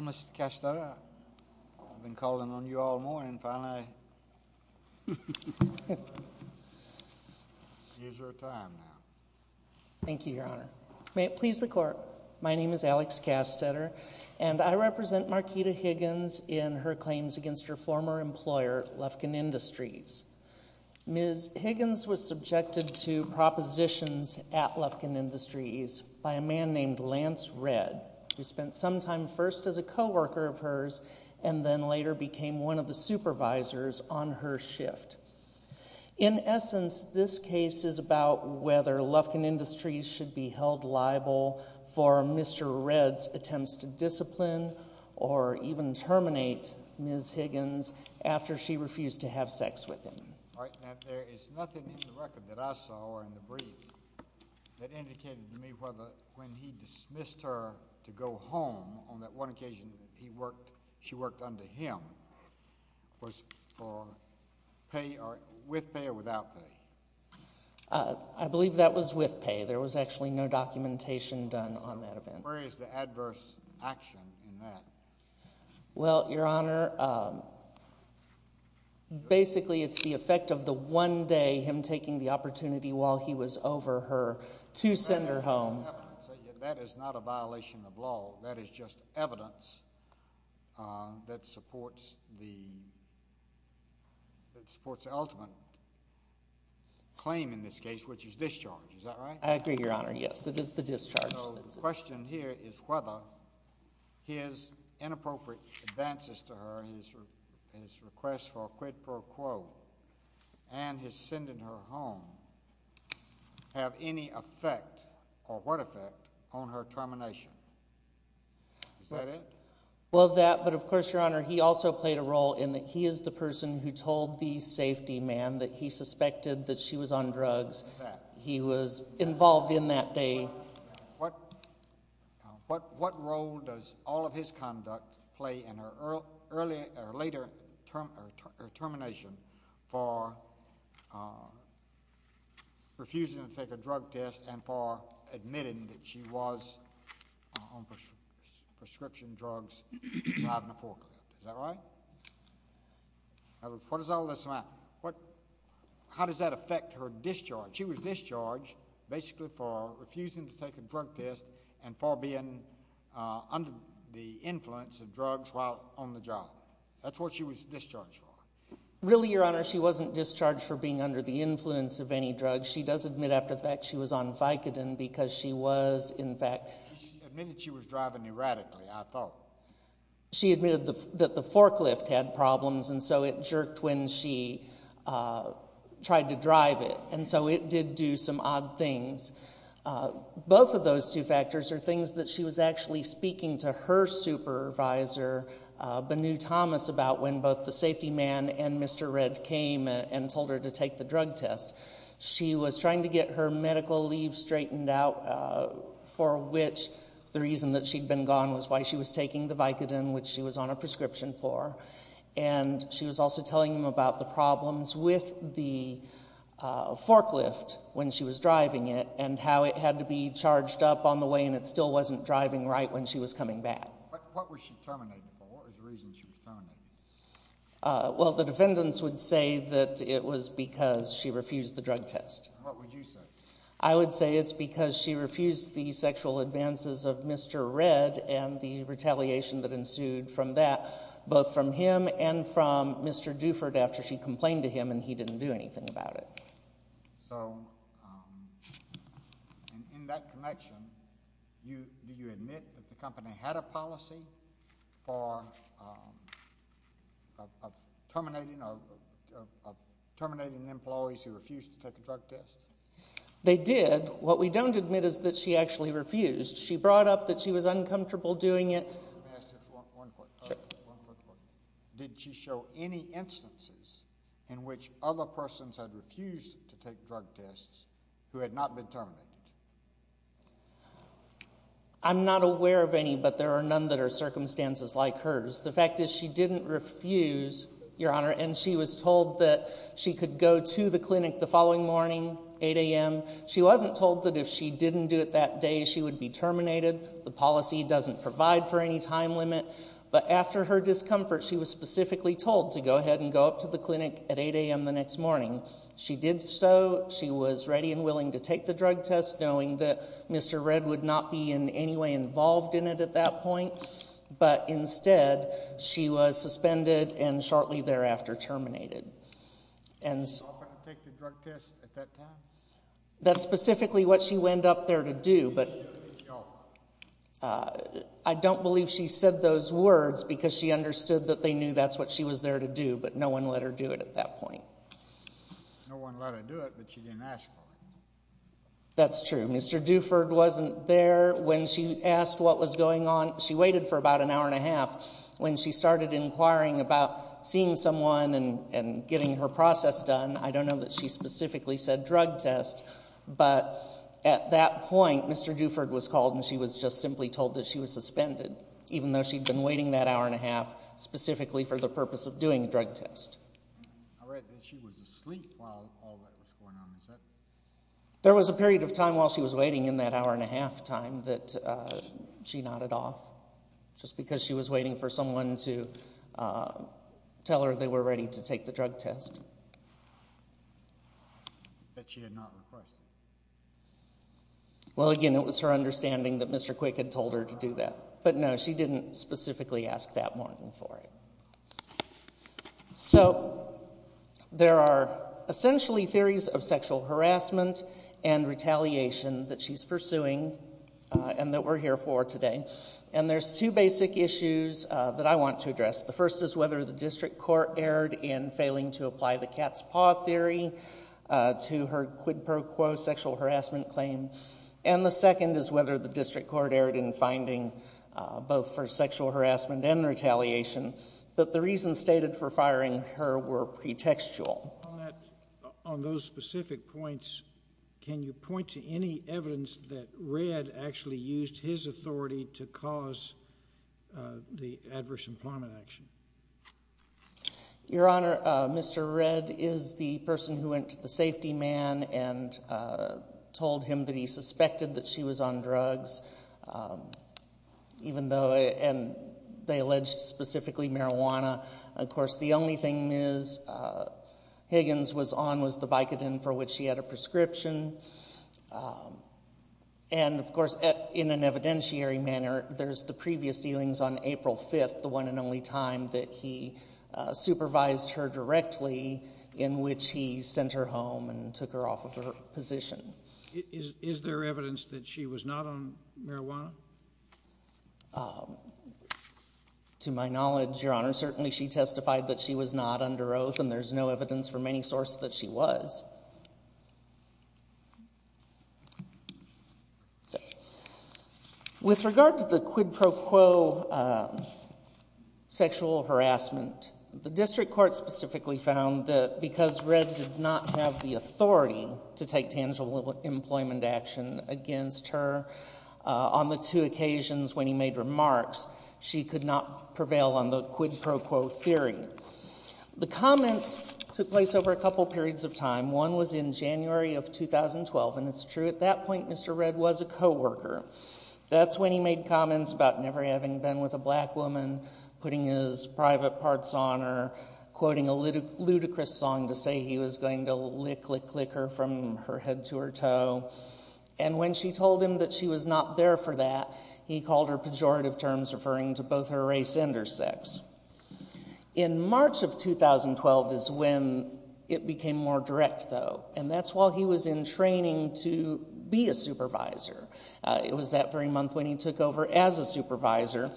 Mr. Castetter, I've been calling on you all morning, finally, here's your time now. Thank you, Your Honor. May it please the Court, my name is Alex Castetter, and I represent Marquita Higgins in her claims against her former employer, Lufkin Industries. Ms. Higgins was subjected to propositions at Lufkin Industries by a man named Lance Redd, who spent some time first as a co-worker of hers and then later became one of the supervisors on her shift. In essence, this case is about whether Lufkin Industries should be held liable for Mr. Redd's attempts to discipline or even terminate Ms. Higgins after she refused to have sex with him. All right. Now, there is nothing in the record that I saw or in the brief that indicated to me whether when he dismissed her to go home on that one occasion that he worked, she worked under him, was for pay or with pay or without pay? I believe that was with pay. There was actually no documentation done on that event. Where is the adverse action in that? Well, Your Honor, basically, it's the effect of the one day him taking the opportunity while he was over her to send her home. That is not a violation of law. That is just evidence that supports the ultimate claim in this case, which is discharge. Is that right? I agree, Your Honor. Yes, it is the discharge. So the question here is whether his inappropriate advances to her, his request for a quid pro quo, and his sending her home have any effect or what effect on her termination. Is that it? Well, that, but of course, Your Honor, he also played a role in that he is the person who told the safety man that he suspected that she was on drugs. He was involved in that day. What role does all of his conduct play in her later termination for refusing to take a drug test and for admitting that she was on prescription drugs, driving a forklift? Is that right? What does all this mean? How does that affect her discharge? She was discharged basically for refusing to take a drug test and for being under the influence of drugs while on the job. That's what she was discharged for. Really, Your Honor, she wasn't discharged for being under the influence of any drugs. She does admit after the fact she was on Vicodin because she was, in fact... She admitted she was driving erratically, I thought. She admitted that the forklift had problems, and so it jerked when she tried to drive it, and so it did do some odd things. Both of those two factors are things that she was actually speaking to her supervisor, Banu Thomas, about when both the safety man and Mr. Redd came and told her to take the drug test. She was trying to get her medical leave straightened out, for which the reason that she'd been gone was why she was taking the Vicodin, which she was on a prescription for. She was also telling him about the problems with the forklift when she was driving it and how it had to be charged up on the way, and it still wasn't driving right when she was coming back. What was she terminated for? What was the reason she was terminated? The defendants would say that it was because she refused the drug test. What would you say? I would say it's because she refused the sexual advances of Mr. Redd and the retaliation that ensued from that, both from him and from Mr. Duford after she complained to him and he didn't do anything about it. So in that connection, do you admit that the company had a policy for terminating employees who refused to take a drug test? They did. What we don't admit is that she actually refused. She brought up that she was uncomfortable doing it. One quick question. Did she show any instances in which other persons had refused to take drug tests who had not been terminated? I'm not aware of any, but there are none that are circumstances like hers. The fact is she didn't refuse, Your Honor, and she was told that she could go to the clinic the following morning, 8 a.m. She wasn't told that if she didn't do it that day, she would be terminated. The policy doesn't provide for any time limit, but after her discomfort, she was specifically told to go ahead and go up to the clinic at 8 a.m. the next morning. She did so. She was ready and willing to take the drug test, knowing that Mr. Redd would not be in She was suspended and shortly thereafter terminated. Was she offered to take the drug test at that time? That's specifically what she went up there to do, but I don't believe she said those words because she understood that they knew that's what she was there to do, but no one let her do it at that point. No one let her do it, but she didn't ask for it. That's true. Mr. Duford wasn't there. When she asked what was going on, she waited for about an hour and a half. When she started inquiring about seeing someone and getting her process done, I don't know that she specifically said drug test, but at that point, Mr. Duford was called and she was just simply told that she was suspended, even though she'd been waiting that hour and a half specifically for the purpose of doing a drug test. I read that she was asleep while all that was going on. There was a period of time while she was waiting in that hour and a half time that she nodded off just because she was waiting for someone to tell her they were ready to take the drug test. Well, again, it was her understanding that Mr. Quick had told her to do that, but no, she didn't specifically ask that morning for it. So, there are essentially theories of sexual harassment and retaliation that she's pursuing and that we're here for today. There's two basic issues that I want to address. The first is whether the district court erred in failing to apply the cat's paw theory to her quid pro quo sexual harassment claim, and the second is whether the district court erred in finding, both for sexual harassment and retaliation, that the reasons stated for firing her were pretextual. On those specific points, can you point to any evidence that Red actually used his authority to cause the adverse employment action? Your Honor, Mr. Red is the person who went to the safety man and told him that he suspected that she was on drugs, even though, and they alleged specifically marijuana. Of course, the only thing Ms. Higgins was on was the Vicodin for which she had a prescription. And, of course, in an evidentiary manner, there's the previous dealings on April 5th, the one and only time that he supervised her directly in which he sent her home and took her off of her position. Is there evidence that she was not on marijuana? To my knowledge, Your Honor, certainly she testified that she was not under oath and there's no evidence from any source that she was. With regard to the quid pro quo sexual harassment, the district court specifically found that because Red did not have the authority to take tangible employment action against her on the two occasions when he made remarks, she could not prevail on the quid pro quo theory. The comments took place over a couple periods of time. One was in January of 2012, and it's true, at that point, Mr. Red was a coworker. That's when he made comments about never having been with a black woman, putting his private he was going to lick, lick, lick her from her head to her toe. And when she told him that she was not there for that, he called her pejorative terms referring to both her race and her sex. In March of 2012 is when it became more direct, though, and that's while he was in training to be a supervisor. It was that very month when he took over as a supervisor,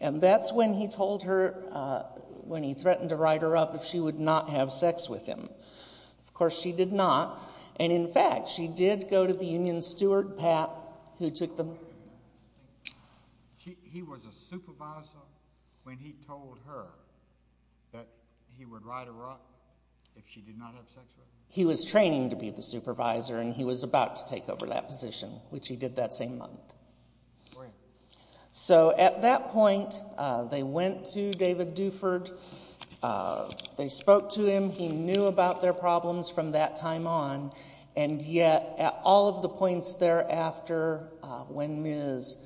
and that's when he told her, when he threatened to write her up if she would not have sex with him. Of course, she did not, and in fact, she did go to the union steward, Pat, who took the He was a supervisor when he told her that he would write her up if she did not have sex with him? He was training to be the supervisor, and he was about to take over that position, which he did that same month. So, at that point, they went to David Duford. They spoke to him. He knew about their problems from that time on, and yet, at all of the points thereafter, when Ms.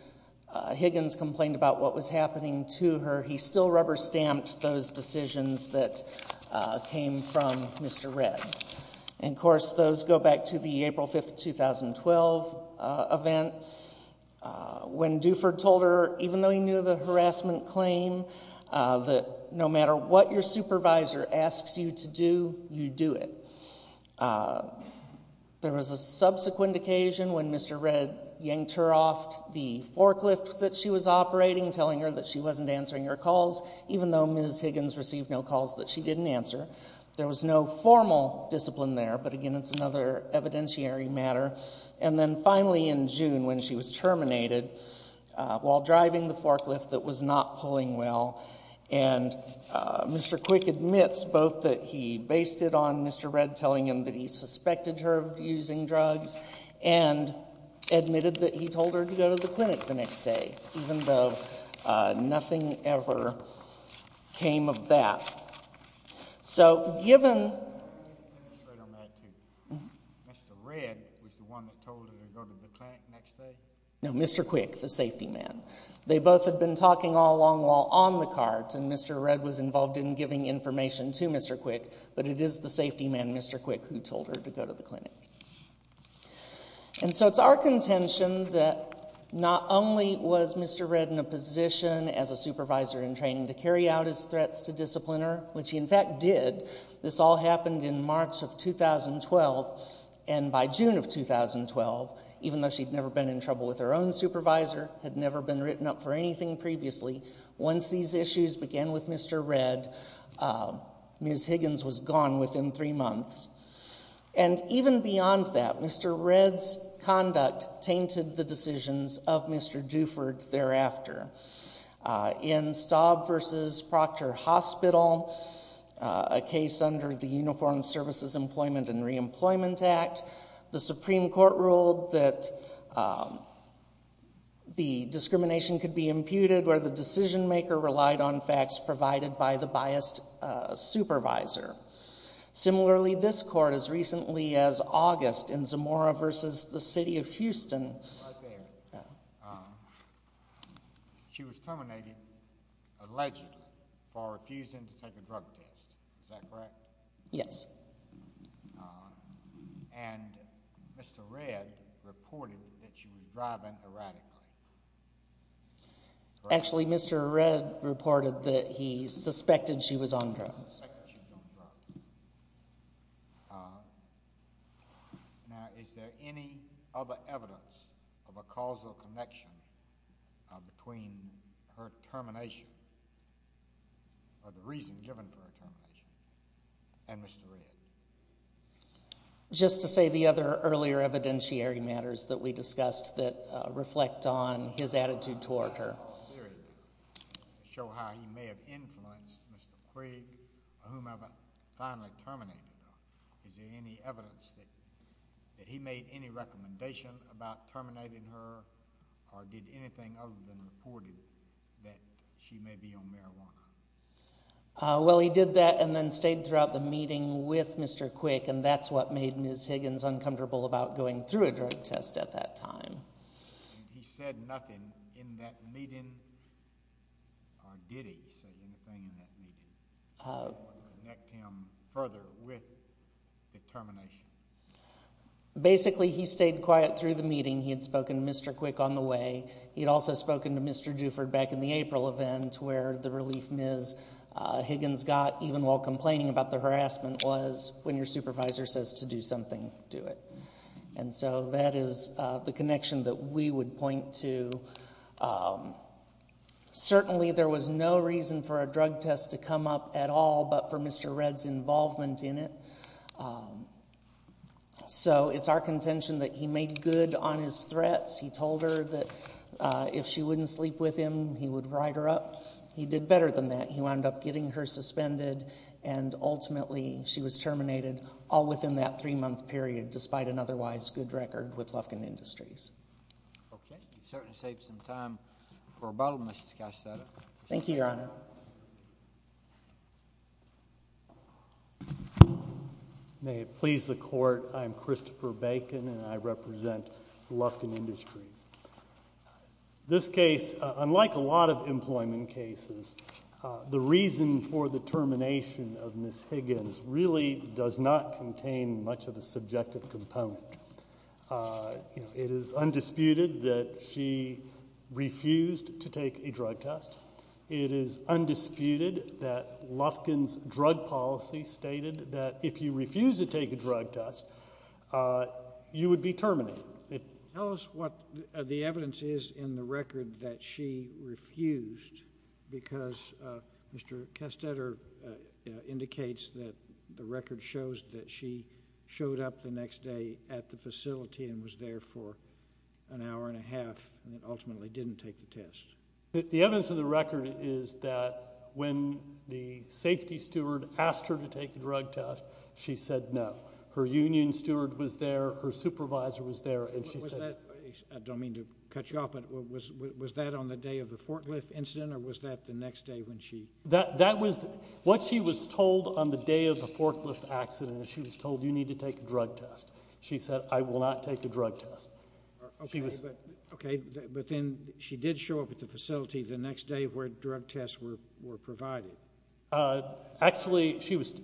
Higgins complained about what was happening to her, he still rubber-stamped those decisions that came from Mr. Redd. Of course, those go back to the April 5, 2012 event, when Duford told her, even though he knew the harassment claim, that no matter what your supervisor asks you to do, you do it. There was a subsequent occasion when Mr. Redd yanked her off the forklift that she was operating, telling her that she wasn't answering her calls, even though Ms. Higgins received no calls that she didn't answer. There was no formal discipline there, but again, it's another evidentiary matter. And then, finally, in June, when she was terminated, while driving the forklift that was not pulling well, and Mr. Quick admits both that he based it on Mr. Redd telling him that he suspected her of using drugs, and admitted that he told her to go to the clinic the next day, even though nothing ever came of that. So given... Mr. Redd was the one that told her to go to the clinic the next day? No, Mr. Quick, the safety man. They both had been talking all along while on the cart, and Mr. Redd was involved in giving information to Mr. Quick, but it is the safety man, Mr. Quick, who told her to go to the clinic. And so it's our contention that not only was Mr. Redd in a position as a supervisor in training to carry out his threats to discipline her, which he in fact did. This all happened in March of 2012, and by June of 2012, even though she'd never been in trouble with her own supervisor, had never been written up for anything previously, once these issues began with Mr. Redd, Ms. Higgins was gone within three months. And even beyond that, Mr. Redd's conduct tainted the decisions of Mr. Duford thereafter. In Staub v. Proctor Hospital, a case under the Uniformed Services Employment and Reemployment Act, the Supreme Court ruled that the discrimination could be imputed where the decision-maker relied on facts provided by the biased supervisor. Similarly, this court, as recently as August, in Zamora v. the City of Houston... Right there. She was terminated, alleged, for refusing to take a drug test. Is that correct? Yes. And Mr. Redd reported that she was driving erratically. Actually, Mr. Redd reported that he suspected she was on drugs. Now, is there any other evidence of a causal connection between her termination, or the reason given for her termination, and Mr. Redd? Just to say the other earlier evidentiary matters that we discussed that reflect on his attitude toward her. Show how he may have influenced Mr. Quigg, whomever finally terminated her. Is there any evidence that he made any recommendation about terminating her, or did anything other than report it, that she may be on marijuana? Well, he did that, and then stayed throughout the meeting with Mr. Quigg, and that's what made Ms. Higgins uncomfortable about going through a drug test at that time. He said nothing in that meeting, or did he say anything in that meeting, that would connect him further with the termination? Basically, he stayed quiet through the meeting. He had spoken to Mr. Quigg on the way. He had also spoken to Mr. Duford back in the April event, where the relief Ms. Higgins got, even while complaining about the harassment, was, when your supervisor says to do something, do it. And so that is the connection that we would point to. Certainly, there was no reason for a drug test to come up at all but for Mr. Redd's involvement in it. So it's our contention that he made good on his threats. He told her that if she wouldn't sleep with him, he would ride her up. He did better than that. He wound up getting her suspended, and ultimately she was terminated all within that three-month period, despite an otherwise good record with Lufkin Industries. Okay. You've certainly saved some time for rebuttal, Mr. Castello. Thank you, Your Honor. May it please the Court, I'm Christopher Bacon, and I represent Lufkin Industries. This case, unlike a lot of employment cases, the reason for the termination of Ms. Higgins really does not contain much of a subjective component. It is undisputed that she refused to take a drug test. It is undisputed that Lufkin's drug policy stated that if you refuse to take a drug test, you would be terminated. Tell us what the evidence is in the record that she refused, because Mr. Castello indicates that the record shows that she showed up the next day at the facility and was there for an hour and a half and ultimately didn't take the test. The evidence in the record is that when the safety steward asked her to take the drug test, she said no. Her union steward was there. Her supervisor was there. I don't mean to cut you off, but was that on the day of the forklift incident, or was that the next day when she? That was what she was told on the day of the forklift accident. She was told, you need to take a drug test. She said, I will not take the drug test. Okay, but then she did show up at the facility the next day where drug tests were provided. Actually, she was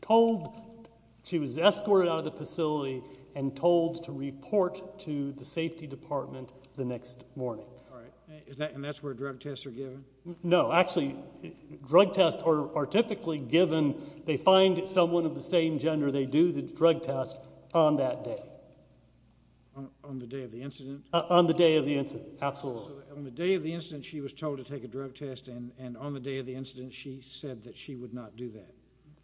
told, she was escorted out of the facility and told to report to the safety department the next morning. And that's where drug tests are given? No, actually, drug tests are typically given, they find someone of the same gender, they do the drug test on that day. On the day of the incident? On the day of the incident, absolutely. So on the day of the incident, she was told to take a drug test, and on the day of the incident, she said that she would not do that?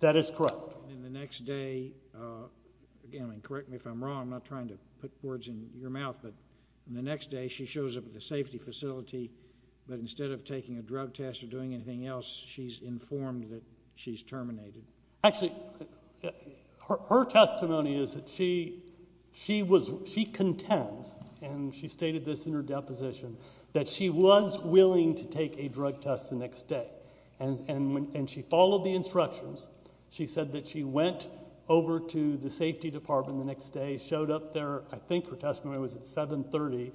That is correct. And the next day, again, correct me if I'm wrong, I'm not trying to put words in your mouth, but the next day, she shows up at the safety facility, but instead of taking a drug test or doing anything else, she's informed that she's terminated? Actually, her testimony is that she contends, and she stated this in her deposition, that she was willing to take a drug test the next day, and she followed the instructions. She said that she went over to the safety department the next day, showed up there, I think her testimony was at 7.30,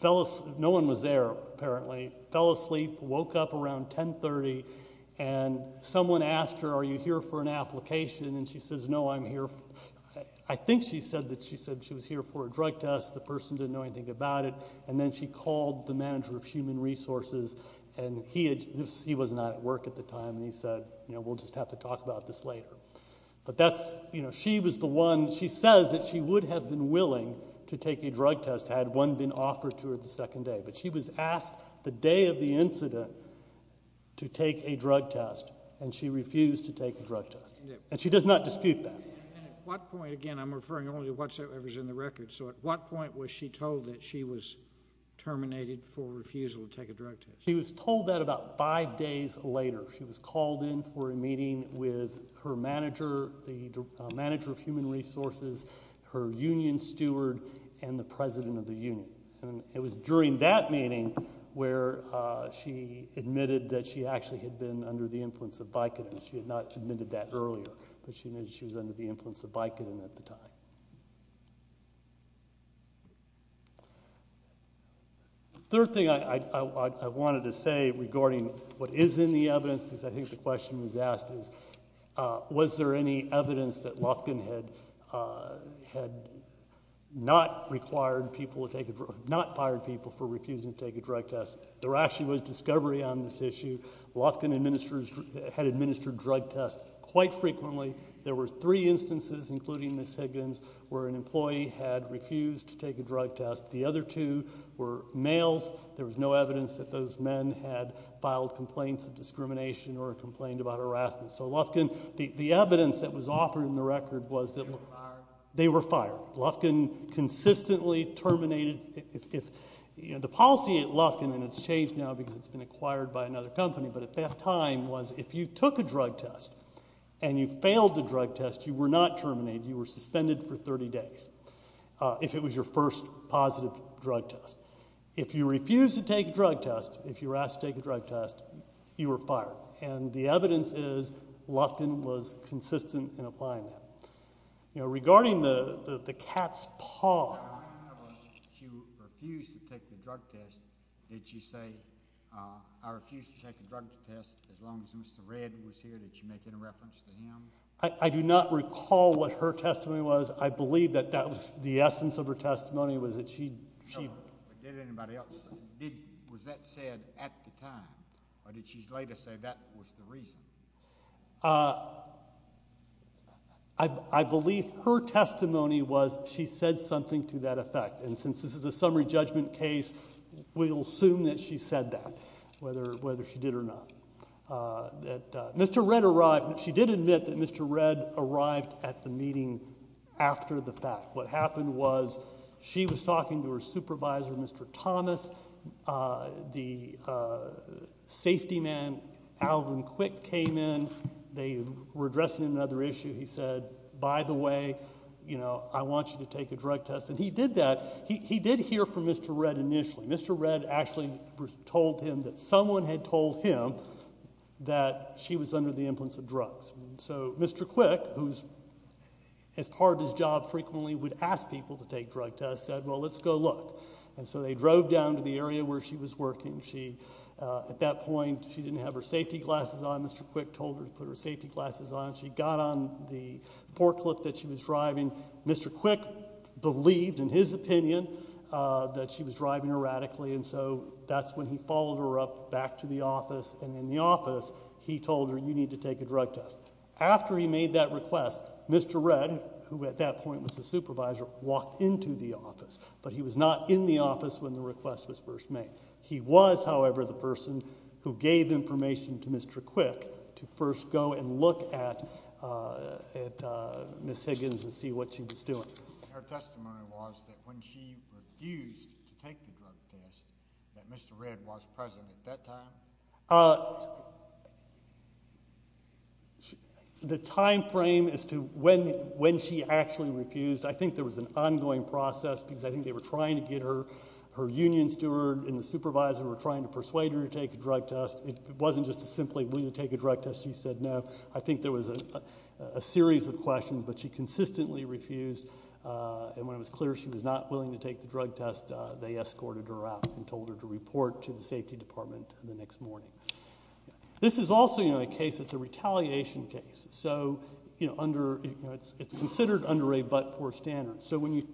fell asleep, no one was there apparently, fell asleep, woke up around 10.30, and someone asked her, are you here for an application? And she says, no, I'm here, I think she said that she was here for a drug test, the person didn't know anything about it, and then she called the manager of human resources, and he was not at work at the time, and he said, you know, we'll just have to talk about this later. But that's, you know, she was the one, she says that she would have been willing to take a drug test had one been offered to her the second day. But she was asked the day of the incident to take a drug test, and she refused to take a drug test. And she does not dispute that. And at what point, again, I'm referring only to what's in the record, so at what point was she told that she was terminated for refusal to take a drug test? She was told that about five days later. She was called in for a meeting with her manager, the manager of human resources, her union steward, and the president of the union. And it was during that meeting where she admitted that she actually had been under the influence of Vicodin. She had not admitted that earlier, but she knew she was under the influence of Vicodin at the time. The third thing I wanted to say regarding what is in the evidence, because I think the question was asked is, was there any evidence that Lofkin had not required people to take a drug, not fired people for refusing to take a drug test? There actually was discovery on this issue. Lofkin had administered drug tests quite frequently. There were three instances, including Ms. Higgins, where an employee had refused to take a drug test. The other two were males. There was no evidence that those men had filed complaints of discrimination or complained about harassment. So Lofkin, the evidence that was offered in the record was that they were fired. Lofkin consistently terminated. The policy at Lofkin, and it's changed now because it's been acquired by another company, but at that time was if you took a drug test and you failed the drug test, you were not terminated. You were suspended for 30 days if it was your first positive drug test. If you refused to take a drug test, if you were asked to take a drug test, you were fired. And the evidence is Lofkin was consistent in applying that. Regarding the cat's paw... When she refused to take the drug test, did she say, I refuse to take the drug test as long as Mr. Redd was here? Did she make any reference to him? I do not recall what her testimony was. I believe that that was the essence of her testimony was that she... No, but did anybody else... Was that said at the time, or did she later say that was the reason? I believe her testimony was she said something to that effect, and since this is a summary judgment case, we'll assume that she said that, whether she did or not. Mr. Redd arrived. She did admit that Mr. Redd arrived at the meeting after the fact. What happened was she was talking to her supervisor, Mr. Thomas. The safety man, Alvin Quick, came in. They were addressing another issue. He said, by the way, I want you to take a drug test. And he did that. He did hear from Mr. Redd initially. Mr. Redd actually told him that someone had told him that she was under the influence of drugs. So Mr. Quick, who as part of his job frequently would ask people to take drug tests, said, well, let's go look. And so they drove down to the area where she was working. At that point, she didn't have her safety glasses on. Mr. Quick told her to put her safety glasses on. She got on the forklift that she was driving. Mr. Quick believed, in his opinion, that she was driving erratically, and so that's when he followed her up back to the office, and in the office he told her, you need to take a drug test. After he made that request, Mr. Redd, who at that point was the supervisor, walked into the office, but he was not in the office when the request was first made. He was, however, the person who gave information to Mr. Quick to first go and look at Ms. Higgins and see what she was doing. Your testimony was that when she refused to take the drug test, that Mr. Redd was present at that time? The time frame as to when she actually refused, I think there was an ongoing process because I think they were trying to get her. Her union steward and the supervisor were trying to persuade her to take a drug test. It wasn't just simply, will you take a drug test? She said no. I think there was a series of questions, but she consistently refused, and when it was clear she was not willing to take the drug test, they escorted her out and told her to report to the safety department the next morning. This is also a case that's a retaliation case. It's considered under a but-for standard. So when you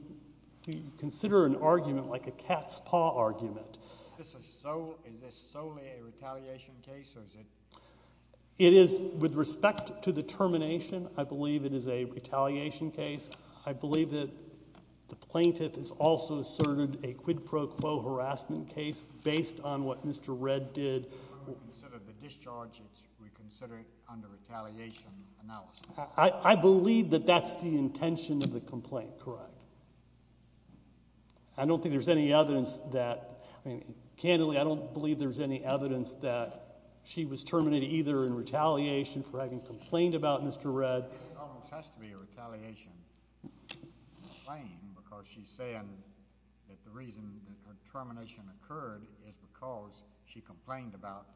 consider an argument like a cat's paw argument. Is this solely a retaliation case? It is with respect to the termination. I believe it is a retaliation case. I believe that the plaintiff has also asserted a quid pro quo harassment case based on what Mr. Redd did. When we consider the discharge, we consider it under retaliation analysis. I believe that that's the intention of the complaint, correct? I don't think there's any evidence that, I mean, candidly, I don't believe there's any evidence that she was terminated either in retaliation for having complained about Mr. Redd. This almost has to be a retaliation complaint because she's saying that the reason her termination occurred is because she complained about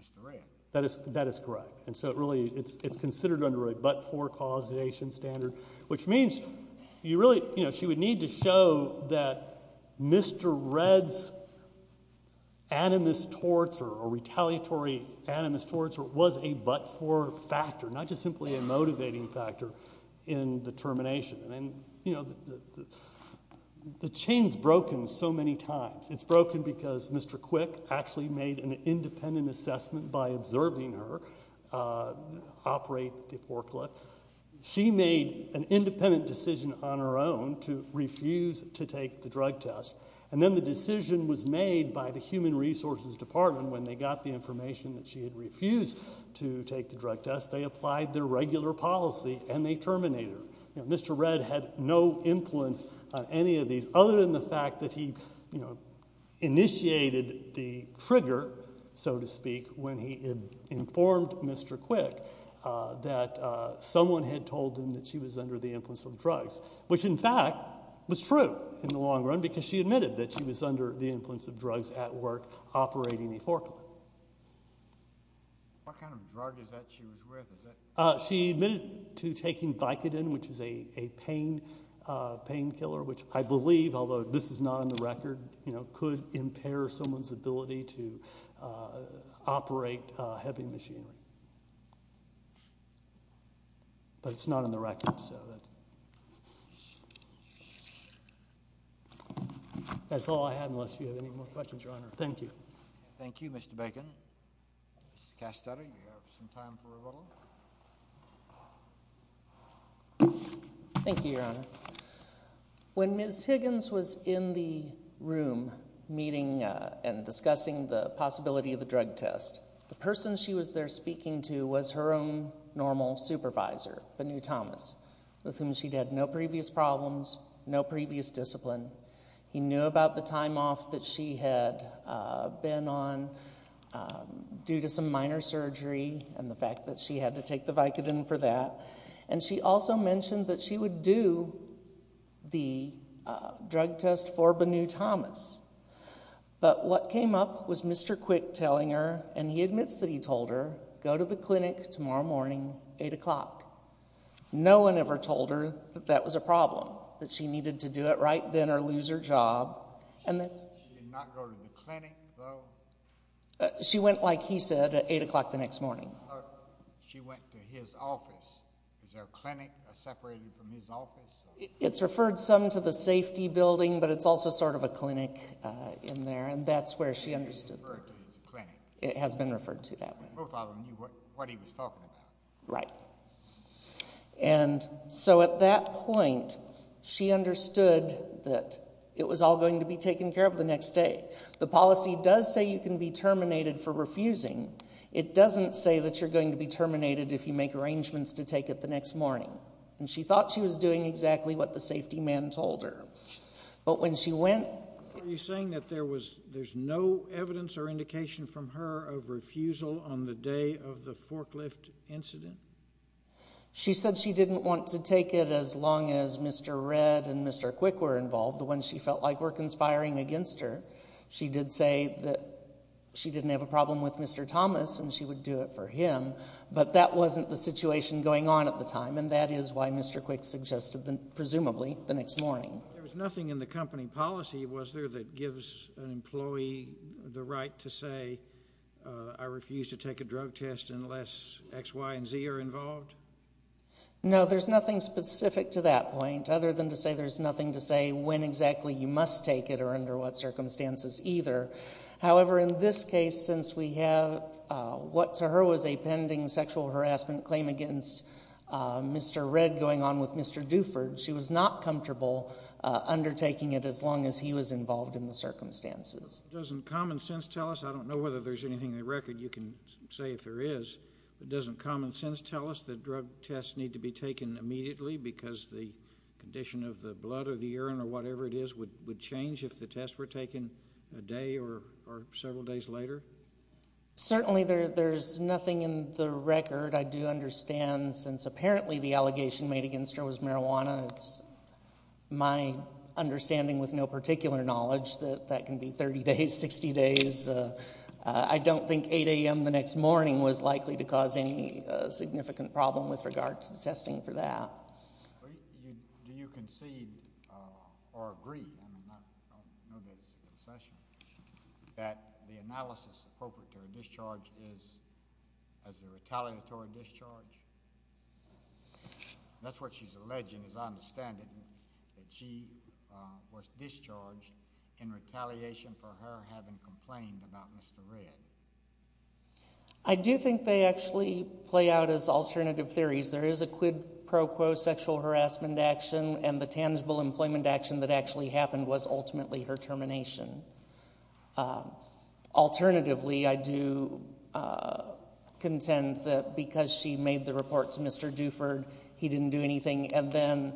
Mr. Redd. That is correct. And so it's considered under a but-for causation standard, which means she would need to show that Mr. Redd's animus torts or retaliatory animus torts was a but-for factor, not just simply a motivating factor in the termination. And the chain's broken so many times. It's broken because Mr. Quick actually made an independent assessment by observing her operate the forklift. She made an independent decision on her own to refuse to take the drug test, and then the decision was made by the Human Resources Department. When they got the information that she had refused to take the drug test, they applied their regular policy and they terminated her. Mr. Redd had no influence on any of these other than the fact that he initiated the trigger, so to speak, when he informed Mr. Quick that someone had told him that she was under the influence of drugs, which in fact was true in the long run because she admitted that she was under the influence of drugs at work operating the forklift. What kind of drug is that she was with? She admitted to taking Vicodin, which is a pain killer, which I believe, although this is not on the record, could impair someone's ability to operate a heavy machine. But it's not on the record. That's all I have unless you have any more questions, Your Honor. Thank you. Thank you, Mr. Bacon. Mr. Castelli, you have some time for a vote. Thank you, Your Honor. When Ms. Higgins was in the room meeting and discussing the possibility of the drug test, the person she was there speaking to was her own normal supervisor, Benue Thomas, with whom she'd had no previous problems, no previous discipline. He knew about the time off that she had been on due to some minor surgery and the fact that she had to take the Vicodin for that. And she also mentioned that she would do the drug test for Benue Thomas. But what came up was Mr. Quick telling her, and he admits that he told her, go to the clinic tomorrow morning, 8 o'clock. No one ever told her that that was a problem, that she needed to do it right then or lose her job. She did not go to the clinic, though? She went, like he said, at 8 o'clock the next morning. She went to his office. Is there a clinic separated from his office? It's referred some to the safety building, but it's also sort of a clinic in there, and that's where she understood. It's referred to as a clinic. It has been referred to that way. Right. And so at that point, she understood that it was all going to be taken care of the next day. The policy does say you can be terminated for refusing. It doesn't say that you're going to be terminated if you make arrangements to take it the next morning. And she thought she was doing exactly what the safety man told her. But when she went— Are you saying that there's no evidence or indication from her of refusal on the day of the forklift incident? She said she didn't want to take it as long as Mr. Redd and Mr. Quick were involved, the ones she felt like were conspiring against her. She did say that she didn't have a problem with Mr. Thomas and she would do it for him, but that wasn't the situation going on at the time, and that is why Mr. Quick suggested, presumably, the next morning. There was nothing in the company policy, was there, that gives an employee the right to say, I refuse to take a drug test unless X, Y, and Z are involved? No, there's nothing specific to that point other than to say there's nothing to say when exactly you must take it or under what circumstances either. However, in this case, since we have what to her was a pending sexual harassment claim against Mr. Redd she was not comfortable undertaking it as long as he was involved in the circumstances. Doesn't common sense tell us—I don't know whether there's anything in the record you can say if there is— but doesn't common sense tell us that drug tests need to be taken immediately because the condition of the blood or the urine or whatever it is would change if the tests were taken a day or several days later? Certainly there's nothing in the record, I do understand, since apparently the allegation made against her was marijuana. It's my understanding with no particular knowledge that that can be 30 days, 60 days. I don't think 8 a.m. the next morning was likely to cause any significant problem with regard to testing for that. Do you concede or agree—I don't know that it's a concession— that the analysis appropriate to her discharge is as a retaliatory discharge? That's what she's alleging, as I understand it, that she was discharged in retaliation for her having complained about Mr. Redd. I do think they actually play out as alternative theories. There is a quid pro quo sexual harassment action, and the tangible employment action that actually happened was ultimately her termination. Alternatively, I do contend that because she made the report to Mr. Duford, he didn't do anything, and then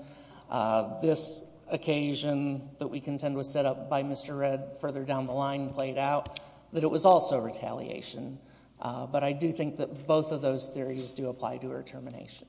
this occasion that we contend was set up by Mr. Redd further down the line played out, that it was also retaliation, but I do think that both of those theories do apply to her termination.